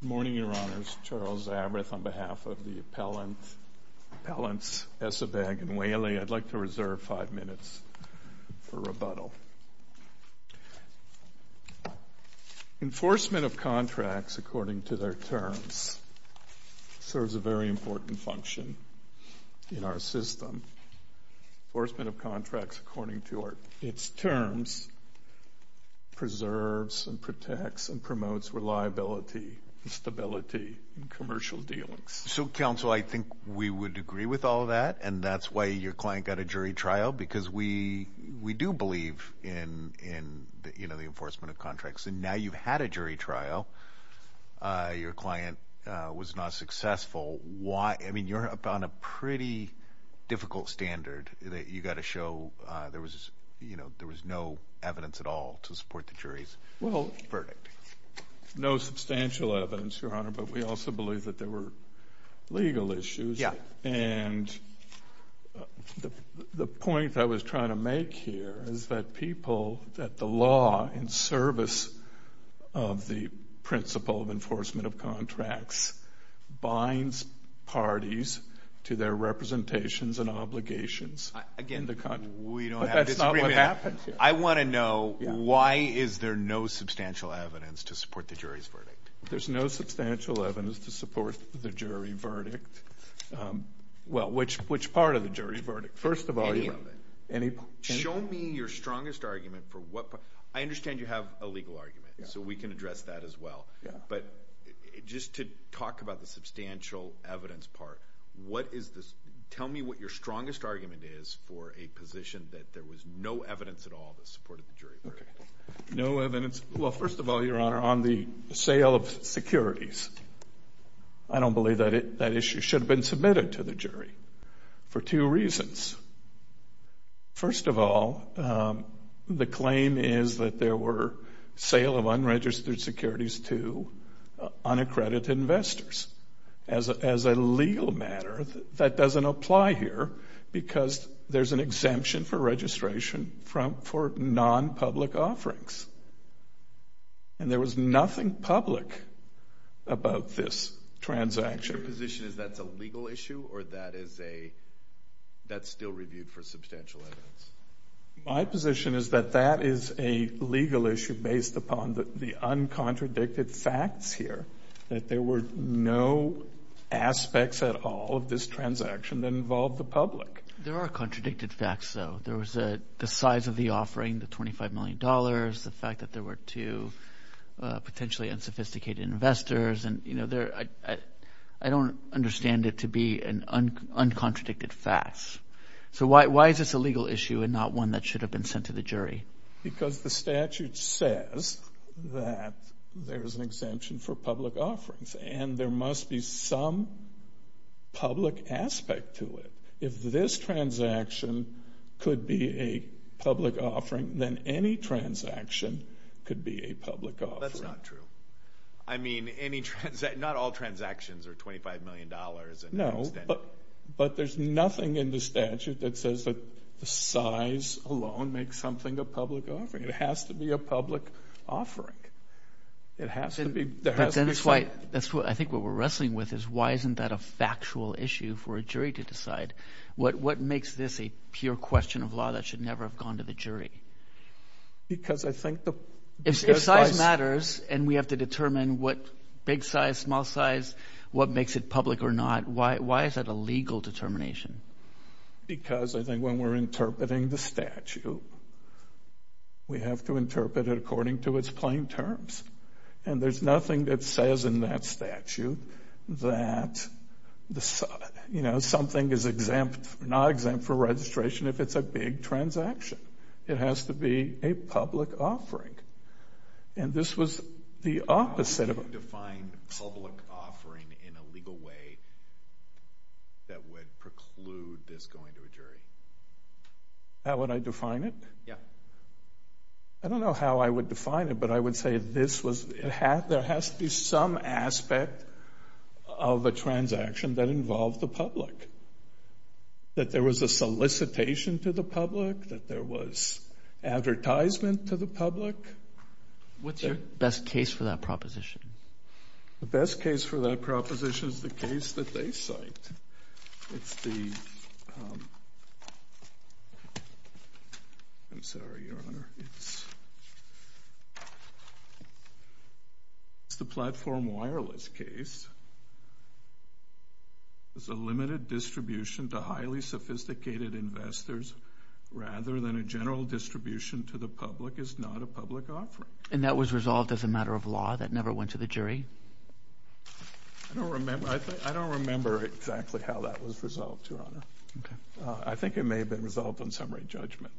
Good morning, Your Honors. Charles Zabrith on behalf of the appellants Esebag and Whaley. I'd like to reserve five minutes for rebuttal. Enforcement of contracts according to their terms serves a very important function in our system. Enforcement of contracts according to its terms preserves and protects and promotes reliability and stability in commercial dealings. So counsel, I think we would agree with all of that and that's why your client got a jury trial because we do believe in the enforcement of contracts. Now you've had a jury trial. Your client was not successful. I mean, you're up on a pretty difficult standard that you've had. There was no evidence at all to support the jury's verdict. No substantial evidence, Your Honor, but we also believe that there were legal issues. The point I was trying to make here is that the law in service of the principle of enforcement of contracts binds parties to their representations and obligations. Again, we don't have a disagreement. I want to know why is there no substantial evidence to support the jury's verdict? There's no substantial evidence to support the jury verdict. Well, which part of the jury verdict? First of all, any of it. Show me your strongest argument for what part. I understand you have a legal argument, so we can address that as well, but just to talk about the substantial evidence part, tell me what your strongest argument is for a position that there was no evidence at all that supported the jury verdict. No evidence. Well, first of all, Your Honor, on the sale of securities, I don't believe that issue should have been submitted to the jury for two reasons. First of all, the claim is that there were sale of unregistered securities to unaccredited investors. As a legal matter, that doesn't apply here because there's an exemption for registration for non-public offerings, and there was nothing public about this transaction. Your position is that's a legal issue or that's still reviewed for substantial evidence? My position is that that is a legal issue based upon the uncontradicted facts here, that there were no aspects at all of this transaction that involved the public. There are contradicted facts, though. There was the size of the offering, the $25 million, the fact that there were two potentially unsophisticated investors, and I don't understand it to be uncontradicted facts. Why is this a legal issue and not one that should have been sent to the jury? Because the statute says that there is an exemption for public offerings, and there must be some public aspect to it. If this transaction could be a public offering, then any transaction could be a public offering. That's not true. I mean, not all transactions are $25 million. No, but there's nothing in the statute that says that the size alone makes something a public offering. It has to be a public offering. It has to be. I think what we're wrestling with is why isn't that a factual issue for a jury to decide? What makes this a pure question of law that should never have gone to the jury? Because I think the... If size matters and we have to determine what big size, small size, what makes it public or not, why is that a legal determination? Because I think when we're interpreting the statute, we have to interpret it according to its plain terms. And there's nothing that says in that statute that something is exempt, not exempt for registration if it's a big transaction. It has to be a public offering. And this was the opposite of... How would you define public offering in a legal way that would preclude this going to a jury? How would I define it? Yeah. I don't know how I would define it, but I would say this was... There has to be some that there was a solicitation to the public, that there was advertisement to the public. What's your best case for that proposition? The best case for that proposition is the case that they cite. It's the... I'm sorry, Your Honor. It's the platform wireless case. There's a limited distribution to highly sophisticated investors rather than a general distribution to the public. It's not a public offering. And that was resolved as a matter of law? That never went to the jury? I don't remember. I don't remember exactly how that was resolved, Your Honor. I think it may have been resolved on summary judgment.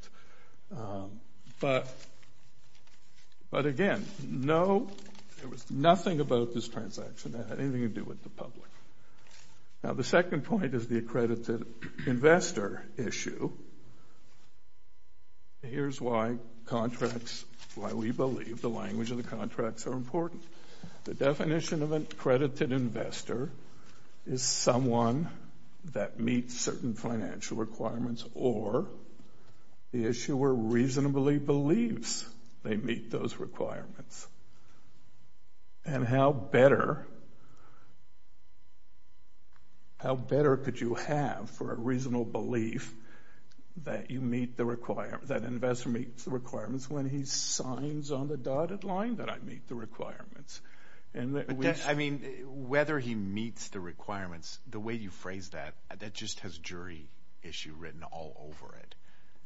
But again, no, there was nothing about this transaction that had anything to do with the public. Now, the second point is the accredited investor issue. Here's why contracts, why we believe the language of the contracts are important. The definition of an accredited investor is someone that meets certain financial requirements or the issuer reasonably believes they meet those requirements. And how better could you have for a reasonable belief that you meet the requirements, that an investor meets the requirements when he signs on the dotted line that I meet the requirements? I mean, whether he meets the requirements, the way you phrase that, that just has jury issue written all over it.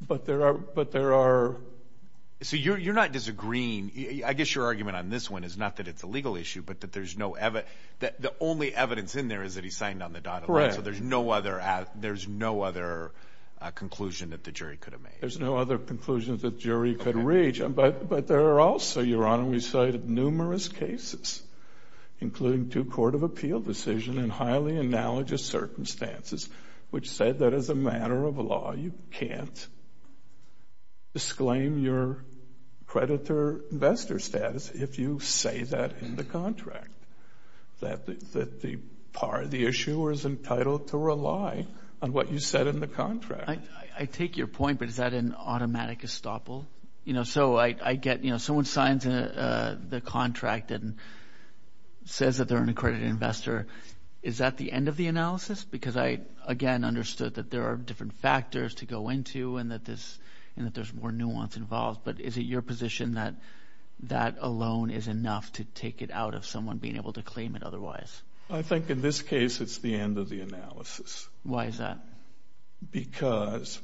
But there are... So you're not disagreeing. I guess your argument on this one is not that it's a legal issue, but that there's no evidence. The only evidence in there is that he signed on the dotted line. So there's no other conclusion that the jury could have made. There's no other conclusion that jury could reach. But there are also, Your Honor, we cited numerous cases, including two court of appeal decision in highly analogous circumstances, which said that as a matter of law, you can't disclaim your creditor-investor status if you say that in the contract, that the part of the issuer is entitled to rely on what you said in the contract. I take your point, but is that an automatic estoppel? You know, so I get, you know, someone signs the contract and says that they're an accredited investor. Is that the end of the analysis? I mean, I've, again, understood that there are different factors to go into and that there's more nuance involved, but is it your position that that alone is enough to take it out of someone being able to claim it otherwise? I think in this case, it's the end of the analysis. Why is that? Because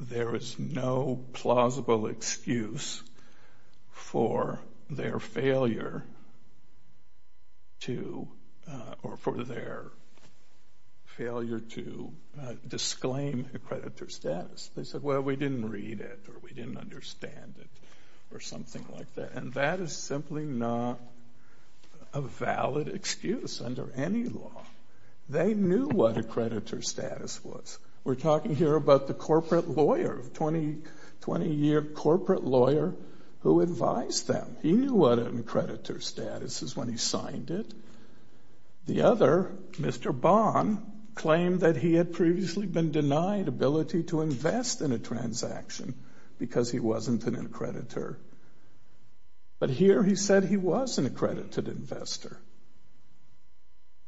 there is no plausible excuse for their failure to, or for their failure to claim a creditor status. They said, well, we didn't read it or we didn't understand it or something like that, and that is simply not a valid excuse under any law. They knew what a creditor status was. We're talking here about the corporate lawyer, 20-year corporate lawyer who advised them. He knew what a creditor status is when he signed it. The other, Mr. Bond, claimed that he had previously been denied ability to invest in a transaction because he wasn't an accreditor, but here he said he was an accredited investor.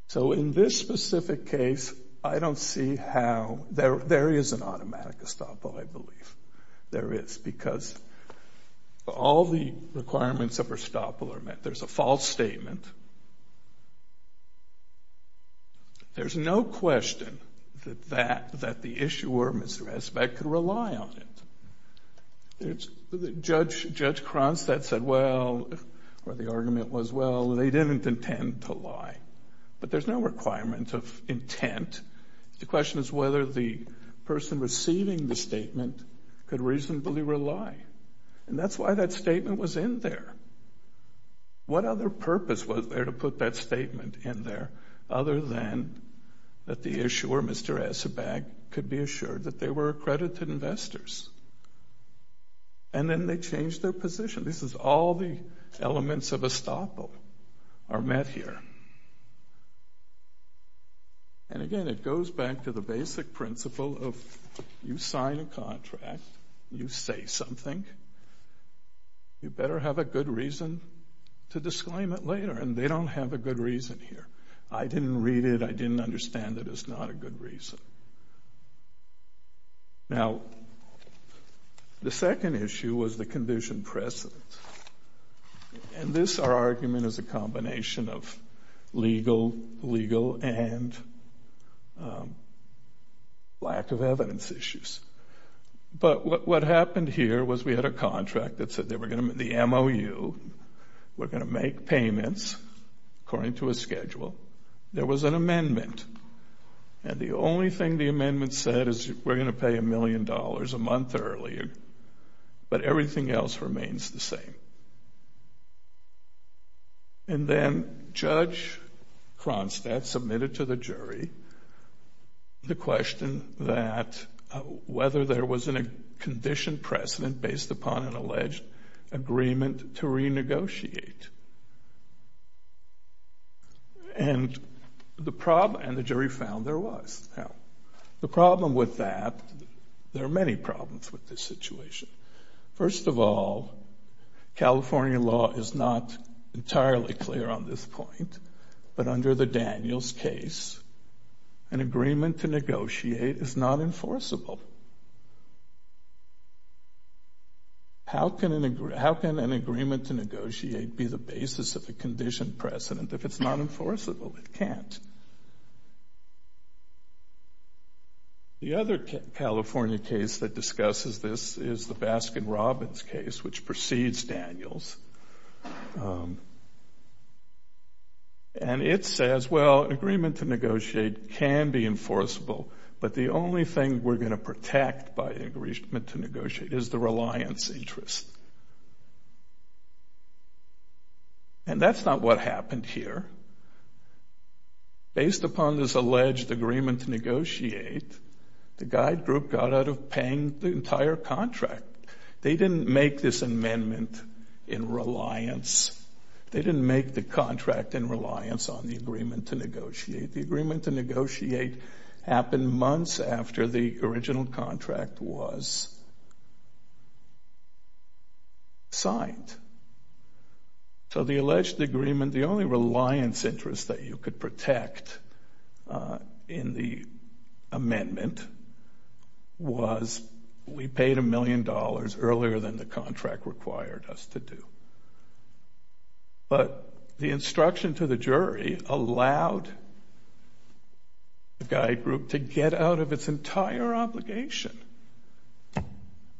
So in this specific case, I don't see how, there is an automatic estoppel, I believe. There is, because all the requirements of estoppel are met. There is a false statement. There is no question that the issuer, Mr. Espet, could rely on it. Judge Cronstadt said, well, or the argument was, well, they didn't intend to lie, but there is no requirement of intent. The question is whether the person receiving the statement could reasonably rely, and that's why that statement was in there. What other purpose was there to put that statement in there other than that the issuer, Mr. Espet, could be assured that they were accredited investors? And then they changed their position. This is all the elements of estoppel are met here. And again, it goes back to the basic principle of you sign a contract, you say something, you better have a good reason to disclaim it later, and they don't have a good reason here. I didn't read it. I didn't understand it. It's not a good reason. Now, the second issue was the condition precedent. And this argument is a combination of legal, legal, and precedent. And this argument is a combination of lack of evidence issues. But what happened here was we had a contract that said the MOU, we're going to make payments according to a schedule. There was an amendment. And the only thing the amendment said is we're going to pay a million dollars a month earlier, but everything else remains the same. And then Judge Cronstadt submitted to the jury the question that whether there was a condition precedent based upon an alleged agreement to renegotiate. And the jury found there was. Now, the problem with that, there are many problems with this situation. First of all, California law is not entirely clear on this case. An agreement to negotiate is not enforceable. How can an agreement to negotiate be the basis of a condition precedent if it's not enforceable? It can't. The other California case that discusses this is the Baskin-Robbins case, which precedes Daniels. And it says, well, an agreement to negotiate can be enforceable, but the only thing we're going to protect by agreement to negotiate is the reliance interest. And that's not what happened here. Based upon this alleged agreement to negotiate, the guide statement in reliance, they didn't make the contract in reliance on the agreement to negotiate. The agreement to negotiate happened months after the original contract was signed. So the alleged agreement, the only reliance interest that you could protect in the amendment was we paid a million dollars earlier than the contract required us to do. But the instruction to the jury allowed the guide group to get out of its entire obligation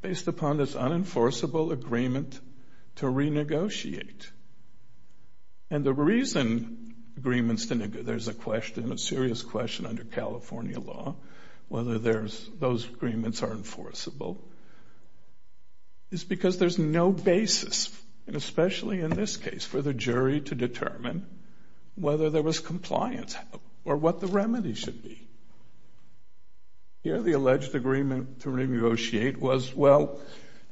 based upon this unenforceable agreement to renegotiate. And the reason agreements to negotiate, there's a question, a serious question under California law, whether those agreements are enforceable, is because there's no basis, and especially in this case, for the jury to determine whether there was compliance or what the remedy should be. Here the alleged agreement to renegotiate was, well,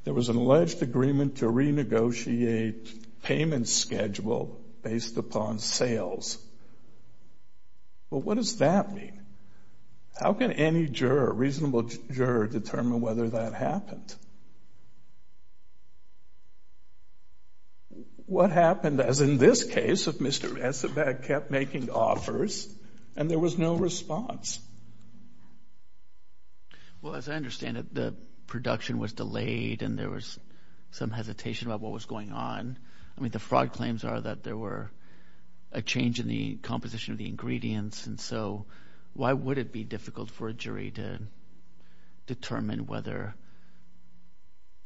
there was an alleged agreement to renegotiate payment schedule based upon sales. Well, what does that mean? Well, the how can any juror, reasonable juror, determine whether that happened? What happened, as in this case, if Mr. Esabat kept making offers and there was no response? Well, as I understand it, the production was delayed and there was some hesitation about what was going on. I mean, the fraud claims are that there were a change in the composition of the ingredients, and so why would it be difficult for a jury to determine whether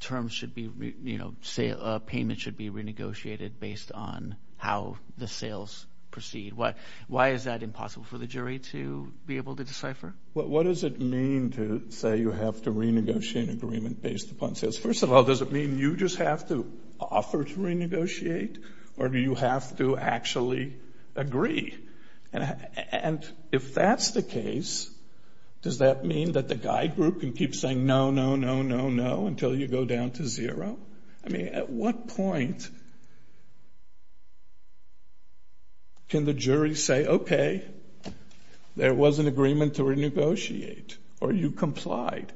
terms should be, you know, payment should be renegotiated based on how the sales proceed? Why is that impossible for the jury to be able to decipher? What does it mean to say you have to renegotiate an agreement based upon sales? First of all, does it mean you just have to offer to renegotiate or do you have to actually agree? And if that's the case, does that mean that the guide group can keep saying no, no, no, no, no until you go down to zero? I mean, at what point can the jury say, okay, there was an agreement to renegotiate or you complied?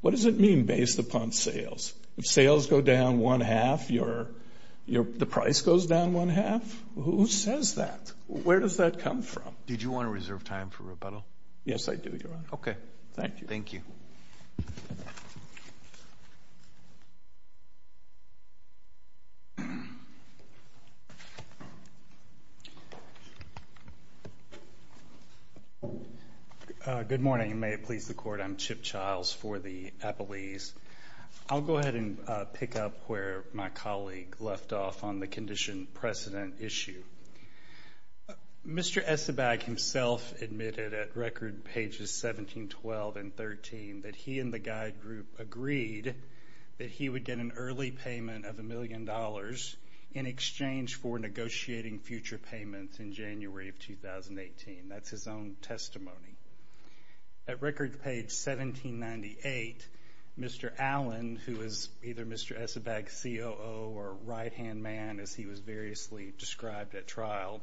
What does it mean based upon sales? If sales go down one half, the price goes down one half? Who says that? Where does that come from? Did you want to reserve time for rebuttal? Yes, I do, Your Honor. Okay. Thank you. Good morning. You may have pleased the Court. I'm Chip Childs for the Appellees. I'll go ahead and pick up where my colleague left off on the condition precedent issue. Mr. Essebag himself admitted at record pages 17, 12, and 13 that he and the guide group agreed that he would get an early payment of a million dollars in exchange for negotiating future payments in January of 2018. That's his own testimony. At record page 1798, Mr. Allen, who is either Mr. Essebag's COO or right-hand man, as he was variously described at trial,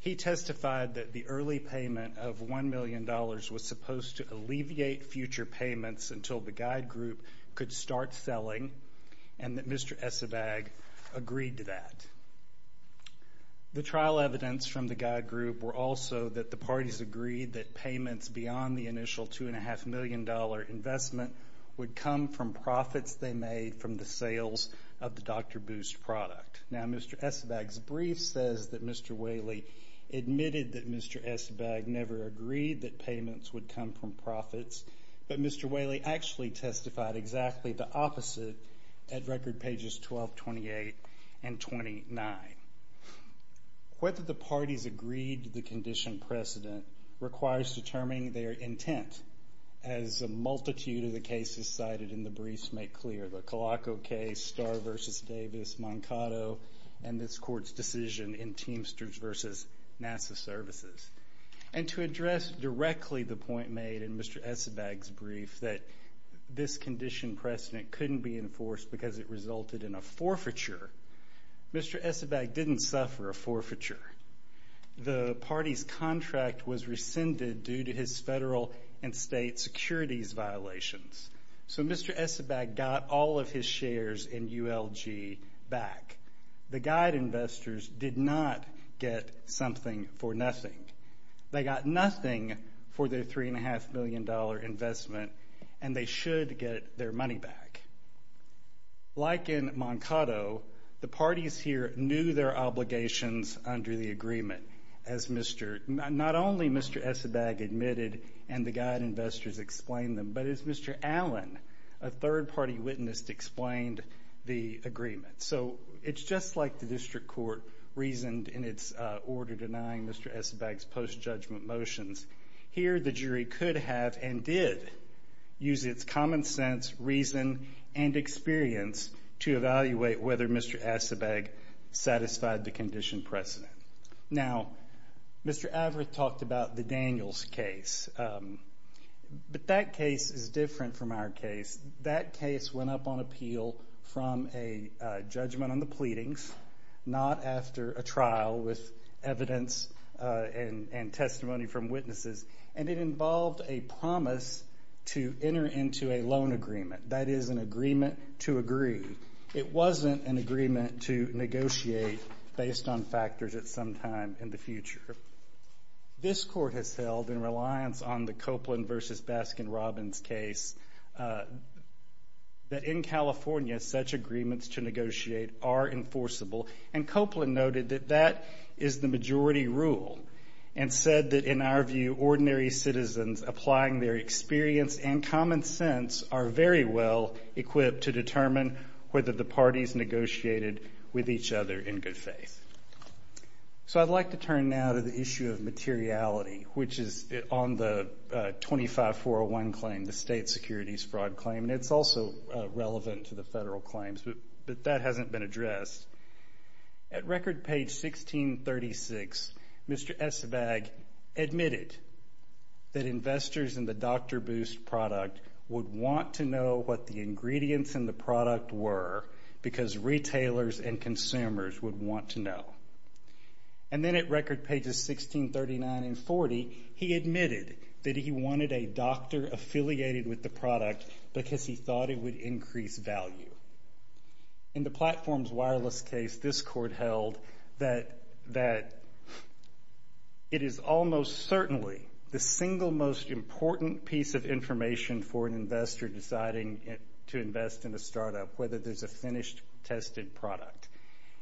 he testified that the early payment of $1 million was supposed to alleviate future payments until the guide group could start selling and that Mr. Essebag agreed to that. The trial evidence from the guide group were also that the parties agreed that payments beyond the initial $2.5 million investment would come from profits they made from the sales of the Dr. Boost product. Now, Mr. Essebag's brief says that Mr. Whaley admitted that Mr. Essebag never agreed that payments would come from profits, but Mr. Whaley actually testified exactly the opposite at record pages 12, 28, and 29. Whether the parties agreed to the condition precedent requires determining their intent, as a multitude of the cases cited in the briefs make clear, the Colacco case, Starr v. Davis, Mankato, and this Court's decision in Teamsters v. NASA Services. And to address directly the point made in Mr. Essebag's brief that this condition precedent couldn't be enforced because it resulted in a forfeiture, Mr. Essebag didn't suffer a forfeiture. The party's contract was rescinded due to his federal and state securities violations. So Mr. Essebag got all of his shares in ULG back. The guide investors did not get something for nothing. They got nothing for their $3.5 million investment, and they should get their money back. Like in Mankato, the parties here knew their obligations under the agreement, as not only Mr. Essebag admitted and the guide investors explained them, but as Mr. Allen, a third-party witness, explained the agreement. So it's just like the District Court reasoned in its order denying Mr. Essebag's post-judgment motions. Here, the jury could have and did use its common sense, reason, and experience to evaluate whether Mr. Essebag satisfied the condition precedent. Now, Mr. Averitt talked about the Daniels case, but that case is different from our case. That case went up on appeal from a judgment on the pleadings, not after a trial with evidence and testimony from witnesses, and it involved a promise to enter into a loan agreement. That is an agreement to agree. It wasn't an agreement to negotiate based on factors at some time in the future. This court has held in reliance on the Copeland v. Baskin-Robbins case that in California, such agreements to negotiate are enforceable, and Copeland noted that that is the majority rule and said that, in our view, ordinary citizens applying their experience and common sense are very well equipped to determine whether the parties negotiated with each other in good faith. So I'd like to turn now to the issue of materiality, which is on the 25401 claim, the state securities fraud claim, and it's also relevant to the federal legislation that's been addressed. At record page 1636, Mr. Esvag admitted that investors in the Dr. Boost product would want to know what the ingredients in the product were because retailers and consumers would want to know. And then at record pages 1639 and 40, he admitted that he wanted a doctor affiliated with the product because he thought it would increase value. In the Platforms Wireless case, this court held that it is almost certainly the single most important piece of information for an investor deciding to invest in a startup, whether there's a finished, tested product.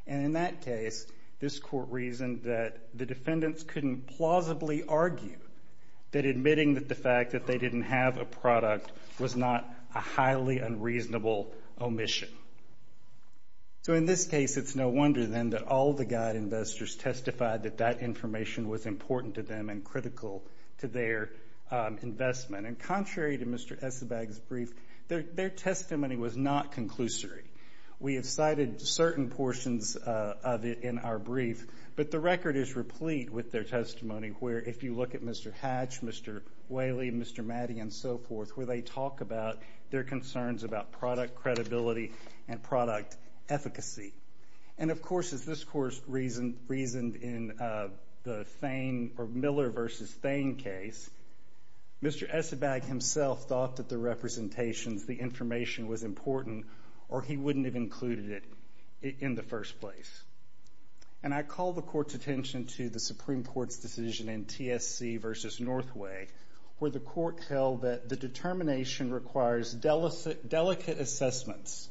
And in that case, this court reasoned that the defendants couldn't plausibly argue that admitting that the fact that they didn't have a product was not a highly unreasonable omission. So in this case, it's no wonder then that all the guide investors testified that that information was important to them and critical to their investment. And contrary to Mr. Esvag's brief, their testimony was not conclusory. We have cited certain portions of it in our brief, but the record is replete with their talk about their concerns about product credibility and product efficacy. And of course, as this court reasoned in the Miller v. Thain case, Mr. Esvag himself thought that the representations, the information was important or he wouldn't have included it in the first place. And I call the court's attention to the Supreme Court's decision in TSC v. Northway, where the court held that the determination requires delicate assessments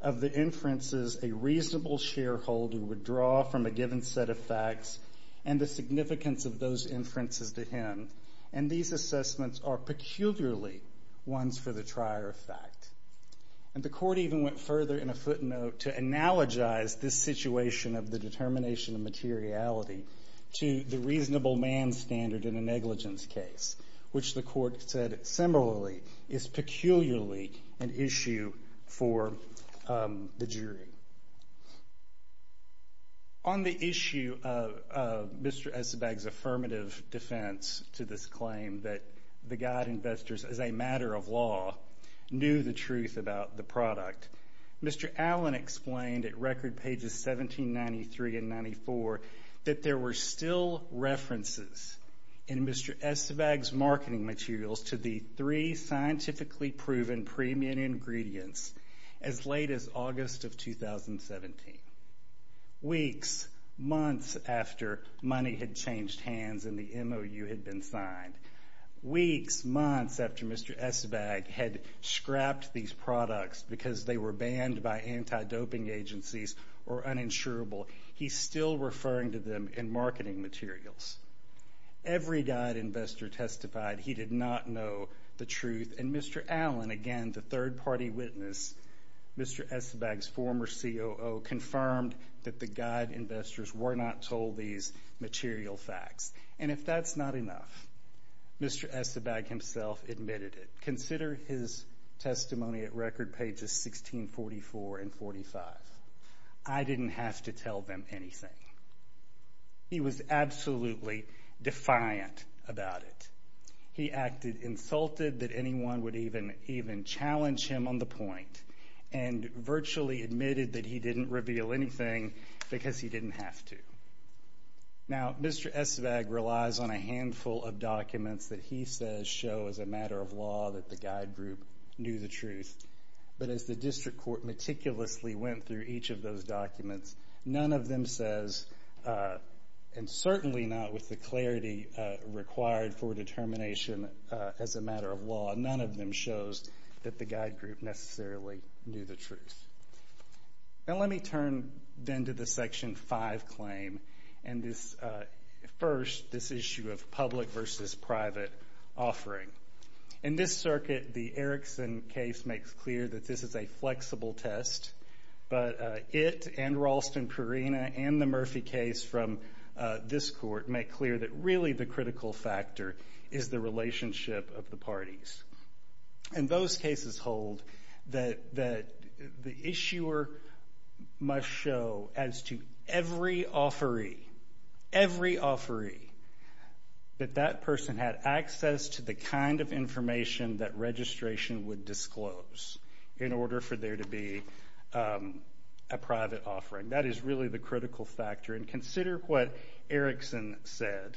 of the inferences a reasonable shareholder would draw from a given set of facts and the significance of those inferences to him. And these assessments are peculiarly ones for the trier of fact. And the court even went further in a footnote to analogize this situation of the determination of materiality to the reasonable man standard in a negligence case, which the court said similarly is peculiarly an issue for the jury. On the issue of Mr. Esvag's affirmative defense to this claim that the guide investors, as a matter of law, knew the truth about the product, Mr. Allen explained at record pages 1793 and 94 that there were still references in Mr. Esvag's marketing materials to the three scientifically proven premium ingredients as late as August of 2017. Weeks, months after money had changed hands and the MOU had been signed. Weeks, months after Mr. Esvag had scrapped these products because they were banned by anti-doping agencies or uninsurable, he's still referring to them in marketing materials. Every guide investor testified he did not know the truth. And Mr. Allen, again, the third party witness, Mr. Esvag's former COO, confirmed that the guide investors were not told these material facts. And if that's not enough, Mr. Esvag himself admitted it. Consider his testimony at record pages 1644 and 45. I didn't have to tell them anything. He was absolutely defiant about it. He acted insulted that anyone would even challenge him on the point and virtually admitted that he didn't reveal anything because he didn't have to. Now, Mr. Esvag relies on a handful of documents that he says show as a matter of law that the guide group knew the truth. But as the district court meticulously went through each of those documents, none of them says, and certainly not with the clarity required for determination as a matter of law. Now, let me turn then to the Section 5 claim and this, first, this issue of public versus private offering. In this circuit, the Erickson case makes clear that this is a flexible test. But it and Ralston Perina and the Murphy case from this court make clear that really the critical factor is the relationship of the parties. And those cases hold that the issuer must show as to every offeree, every offeree, that that person had access to the kind of information that registration would disclose in order for there to be a private offering. That is really the critical factor. And consider what Erickson said.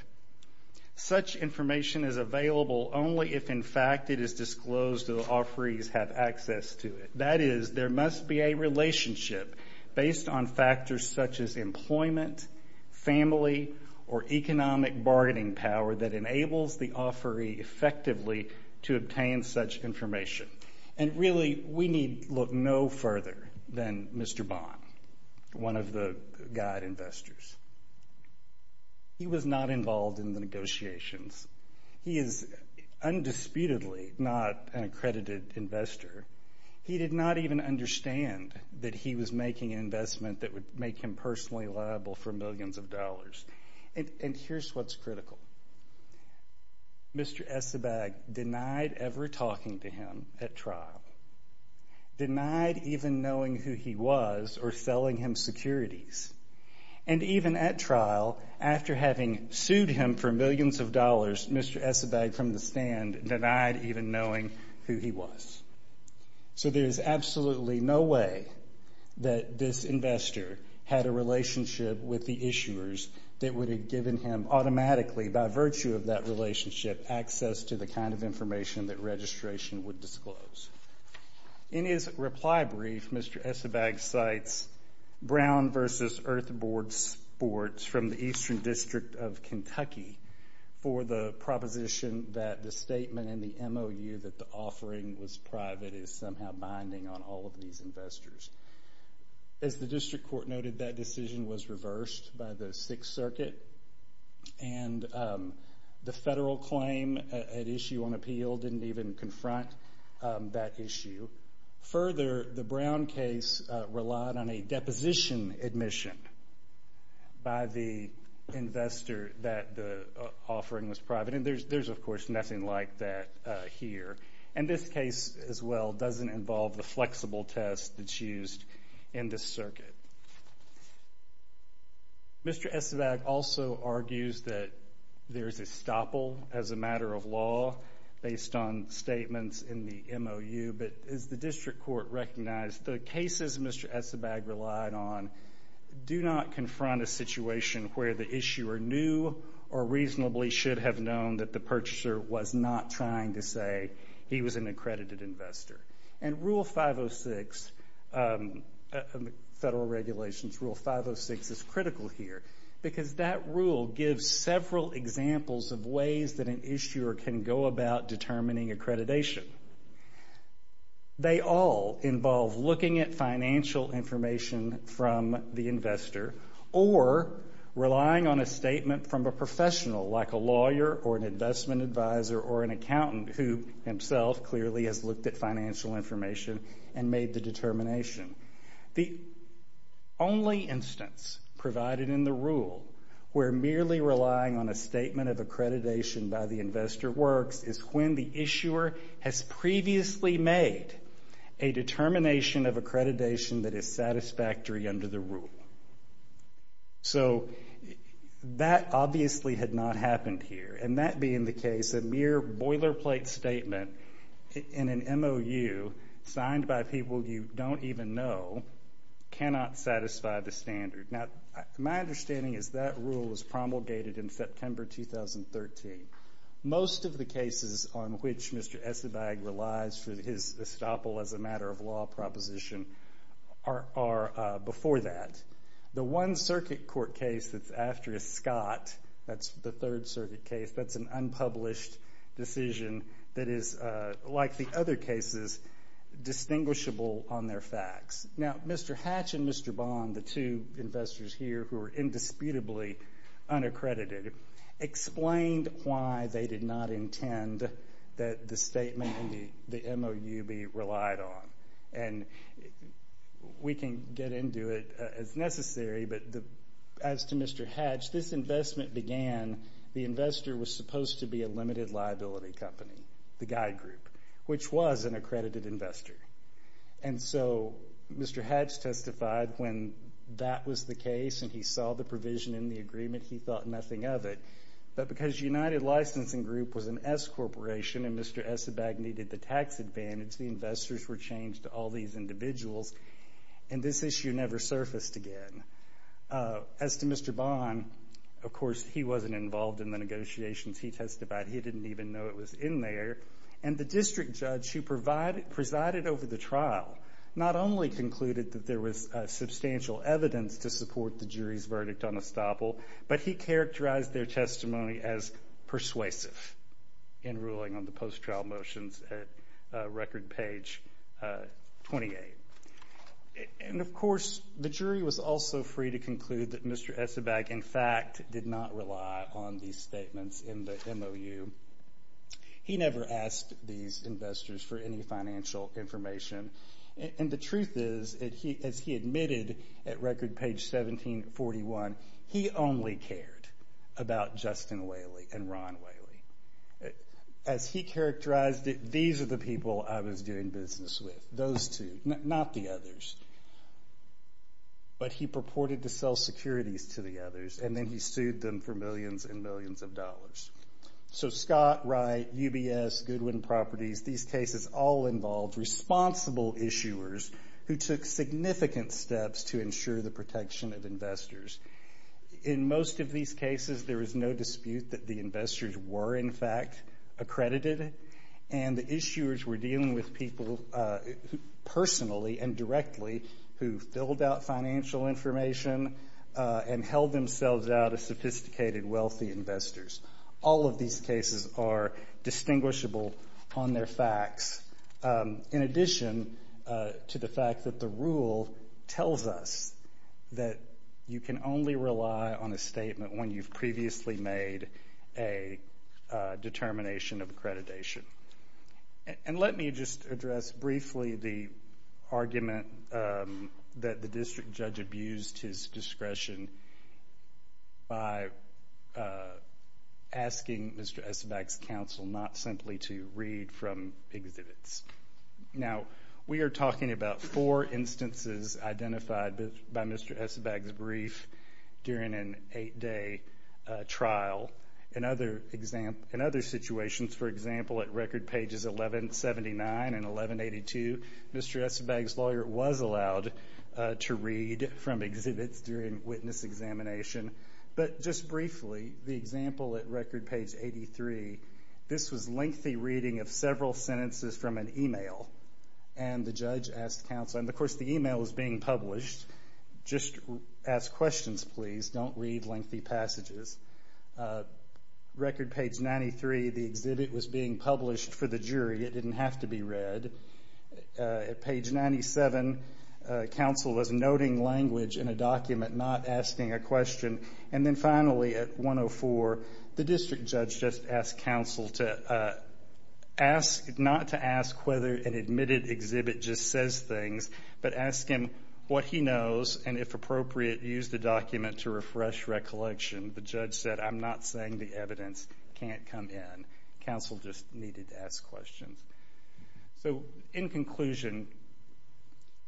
Such information is available only if, in fact, it is disclosed that the offerees have access to it. That is, there must be a relationship based on factors such as employment, family, or economic bargaining power that enables the offeree effectively to obtain such information. And really, we need look no further than Mr. Bond, one of the guide investors. He was not even understand that he was making an investment that would make him personally liable for millions of dollars. And here is what is critical. Mr. Essebag denied ever talking to him at trial, denied even knowing who he was or selling him securities. And even at trial, after having sued him for millions of dollars, Mr. Essebag from the stand denied even knowing who he was. So there is absolutely no way that this investor had a relationship with the issuers that would have given him automatically, by virtue of that relationship, access to the kind of information that registration would disclose. In his reply brief, Mr. Essebag cites Brown versus Earth Board Sports from the Eastern District of Kentucky for the proposition that the statement in the MOU that the offering was private is somehow binding on all of these investors. As the district court noted, that decision was reversed by the Sixth Circuit. And the federal claim at issue on appeal didn't even confront that issue. Further, the Brown case relied on a deposition admission by the investor that the offering was private. And there is, of course, nothing like that here. And this case, as well, doesn't involve the flexible test that is used in this circuit. Mr. Essebag also argues that there is a stopple as a matter of law based on statements in the MOU. But as the district court recognized, the cases Mr. Essebag relied on do not confront a situation where the issuer knew or reasonably should have known that the purchaser was not trying to say he was an accredited investor. And Rule 506, Federal Regulations Rule 506, is critical here, because that rule gives several examples of ways that an issuer can go about determining accreditation. They all involve looking at financial information from the investor or relying on a statement from a professional, like a lawyer or an investment advisor or an accountant who himself clearly has looked at financial information and made the determination. The only instance provided in the rule where merely relying on a statement of accreditation by the investor works is when the issuer has previously made a determination of accreditation that is satisfactory under the rule. So that obviously had not happened here. And that being the case, a mere boilerplate statement in an MOU signed by people you don't even know cannot satisfy the standard. Now, my understanding is that rule was promulgated in September 2013. Most of the cases on which that, the one circuit court case that's after is Scott. That's the third circuit case. That's an unpublished decision that is, like the other cases, distinguishable on their facts. Now, Mr. Hatch and Mr. Bond, the two investors here who are indisputably unaccredited, explained why they did not intend that the statement in the MOU be relied on. And we can get into it as necessary, but as to Mr. Hatch, this investment began, the investor was supposed to be a limited liability company, the guide group, which was an accredited investor. And so Mr. Hatch testified when that was the case and he saw the provision in the agreement, he thought nothing of it. But because United Licensing Group was an S corporation and Mr. Essebag needed the tax advantage, the investors were changed to all these individuals. And this issue never surfaced again. As to Mr. Bond, of course he wasn't involved in the negotiations he testified. He didn't even know it was in there. And the district judge who presided over the trial, not only concluded that there was substantial evidence to support the jury's verdict on estoppel, but he characterized their testimony as persuasive in ruling on post-trial motions at record page 28. And of course, the jury was also free to conclude that Mr. Essebag, in fact, did not rely on these statements in the MOU. He never asked these investors for any financial information. And the truth is, as he admitted at record page 1741, he only cared about Justin Whaley and Ron Whaley. As he cared about the investigators, he characterized that these are the people I was doing business with. Those two, not the others. But he purported to sell securities to the others, and then he sued them for millions and millions of dollars. So Scott, Wright, UBS, Goodwin Properties, these cases all involved responsible issuers who took significant steps to ensure the protection of investors. In most of these cases, there is no dispute that the investors were, in fact, accredited, and the issuers were dealing with people personally and directly who filled out financial information and held themselves out as sophisticated, wealthy investors. All of these cases are distinguishable on their facts, in addition to the fact that the rule tells us that you can only rely on a statement when you've previously made a determination of accreditation. And let me just address briefly the argument that the district judge abused his discretion by asking Mr. Essebag's counsel not simply to read from exhibits. Now we are talking about four instances identified by Mr. Essebag's brief during an eight-day trial. In other situations, for example, at record pages 1179 and 1182, Mr. Essebag's lawyer was allowed to read from exhibits during witness examination. But just briefly, the example at record page 83, this was lengthy reading of several sentences from an email, and the judge asked counsel, and of course the email was being published, just ask questions please, don't read lengthy passages. Record page 93, the exhibit was being published for the jury, it didn't have to be read. At page 97, counsel was noting language in a document, not asking a question. And then finally, at 104, the district judge just asked counsel to ask, not to ask whether an admitted exhibit just says things, but ask him what he knows and, if appropriate, use the document to refresh recollection. The judge said, I'm not saying the evidence can't come in. Counsel just needed to ask questions. So, in conclusion,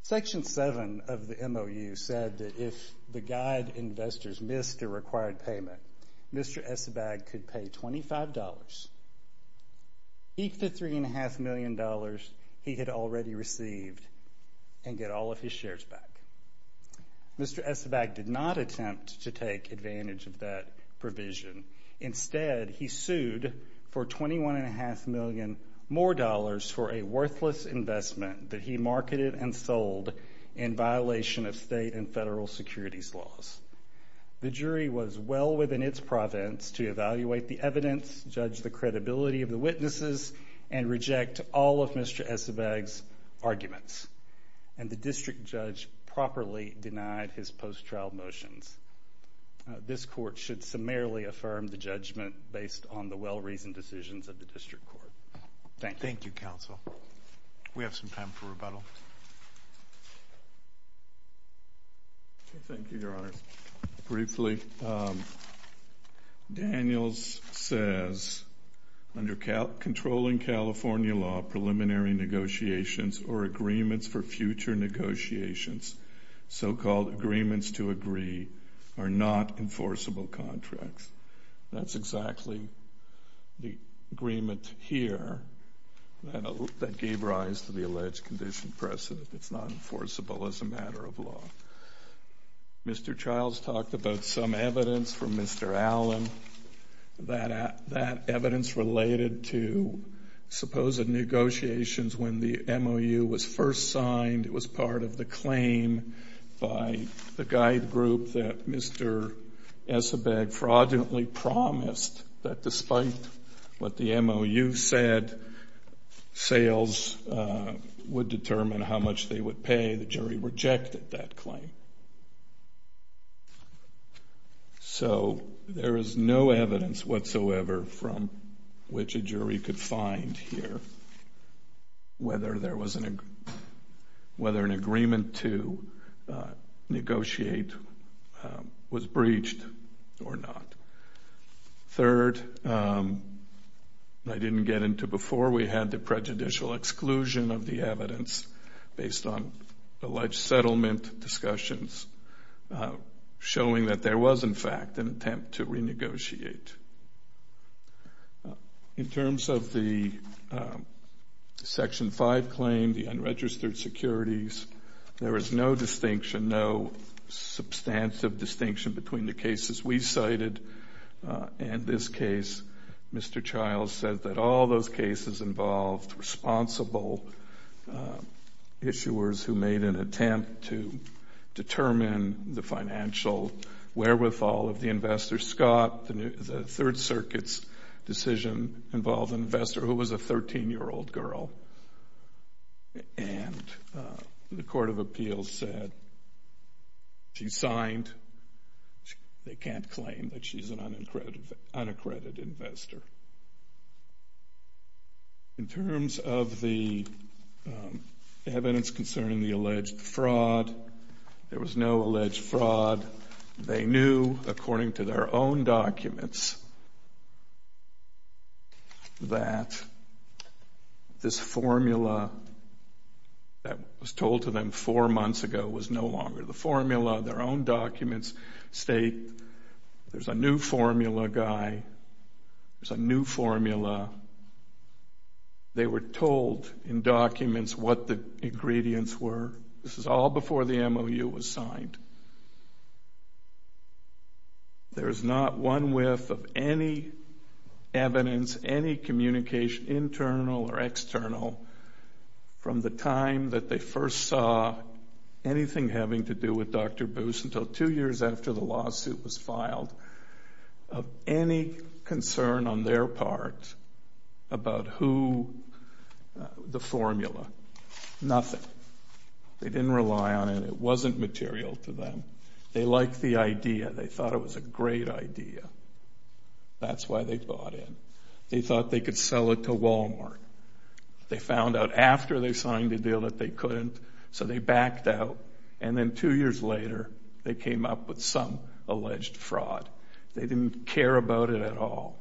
Section 7 of the MOU said that if the guide investors missed a required payment, Mr. Essebag could pay $25, each of the $3.5 million he had already received, and get all of his shares back. Mr. Essebag did not attempt to take advantage of that provision. Instead, he sued for $21.5 million more for a worthless investment that he marketed and sold in violation of state and federal securities laws. The jury was well within its province to evaluate the evidence, judge the credibility of the witnesses, and reject all of Mr. Essebag's arguments. And the district judge properly denied his post-trial motions. This court should summarily affirm the judgment based on the well-reasoned decisions of the district court. Thank you. Thank you, counsel. We have some time for rebuttal. Thank you, Your Honor. Briefly, Daniels says, under controlling California law, preliminary negotiations or agreements for future negotiations, so-called agreements to agree, are not enforceable contracts. That's exactly the agreement here that gave rise to the alleged condition precedent. It's not enforceable as a matter of law. Mr. Childs talked about some evidence from Mr. Allen. That evidence related to supposed negotiations when the MOU was first signed. It was part of the claim by the guide group that Mr. Essebag fraudulently promised that despite what the MOU said, sales would determine how much they would pay. The jury rejected that claim. So there is no evidence whatsoever from which a jury could find here whether an agreement to negotiate was breached or not. Third, I like settlement discussions, showing that there was, in fact, an attempt to renegotiate. In terms of the Section 5 claim, the unregistered securities, there is no distinction, no substantive distinction between the cases we cited and this case. Mr. Childs said that all those cases involved responsible issuers who made an attempt to determine the financial wherewithal of the investor. Scott, the Third Circuit's decision involved an investor who was a 13-year-old girl, and the Court of Appeals said she signed. They can't claim that she's an unaccredited investor. In terms of the evidence concerning the alleged fraud, there was no alleged fraud. They knew, according to their own documents, that this formula that was told to them four months ago was no longer the formula. Their own documents state there's a new formula guy, there's a new formula. They were told in documents what the ingredients were. This is all before the MOU was signed. There's not one whiff of any evidence, any communication internal or external from the time that they first saw anything having to do with Dr. Boos until two years after the lawsuit was filed of any concern on their part about the formula. Nothing. They didn't rely on it. It wasn't material to them. They liked the idea. They thought it was a great idea. That's why they bought in. They thought they could sell it to Walmart. They found out after they signed the deal that they couldn't, so they backed out, and then two years later they came up with some alleged fraud. They didn't care about it at all.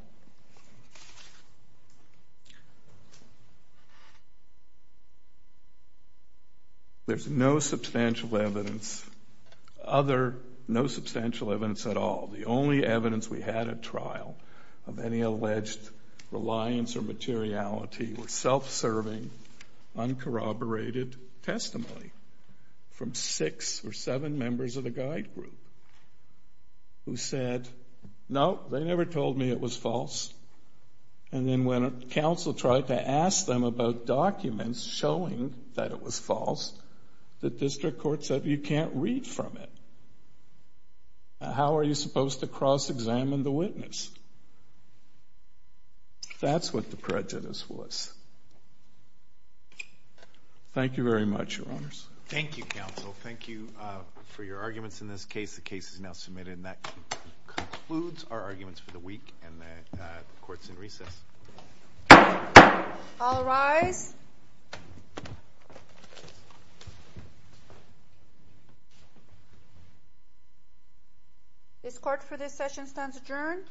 There's no substantial evidence, no substantial evidence at all. The only evidence we had at trial of any alleged reliance or materiality was self-serving, uncorroborated testimony from six or seven members of the guide group who said, no, they never told me it was false. And then when counsel tried to ask them about documents showing that it was false, the district court said, you can't read from it. How are you supposed to cross-examine the witness? That's what the prejudice was. Thank you very much. Thank you, counsel. Thank you for your arguments in this case. The case is now submitted, and that concludes our arguments for the week, and the court's in recess. All rise. This court for this session stands adjourned.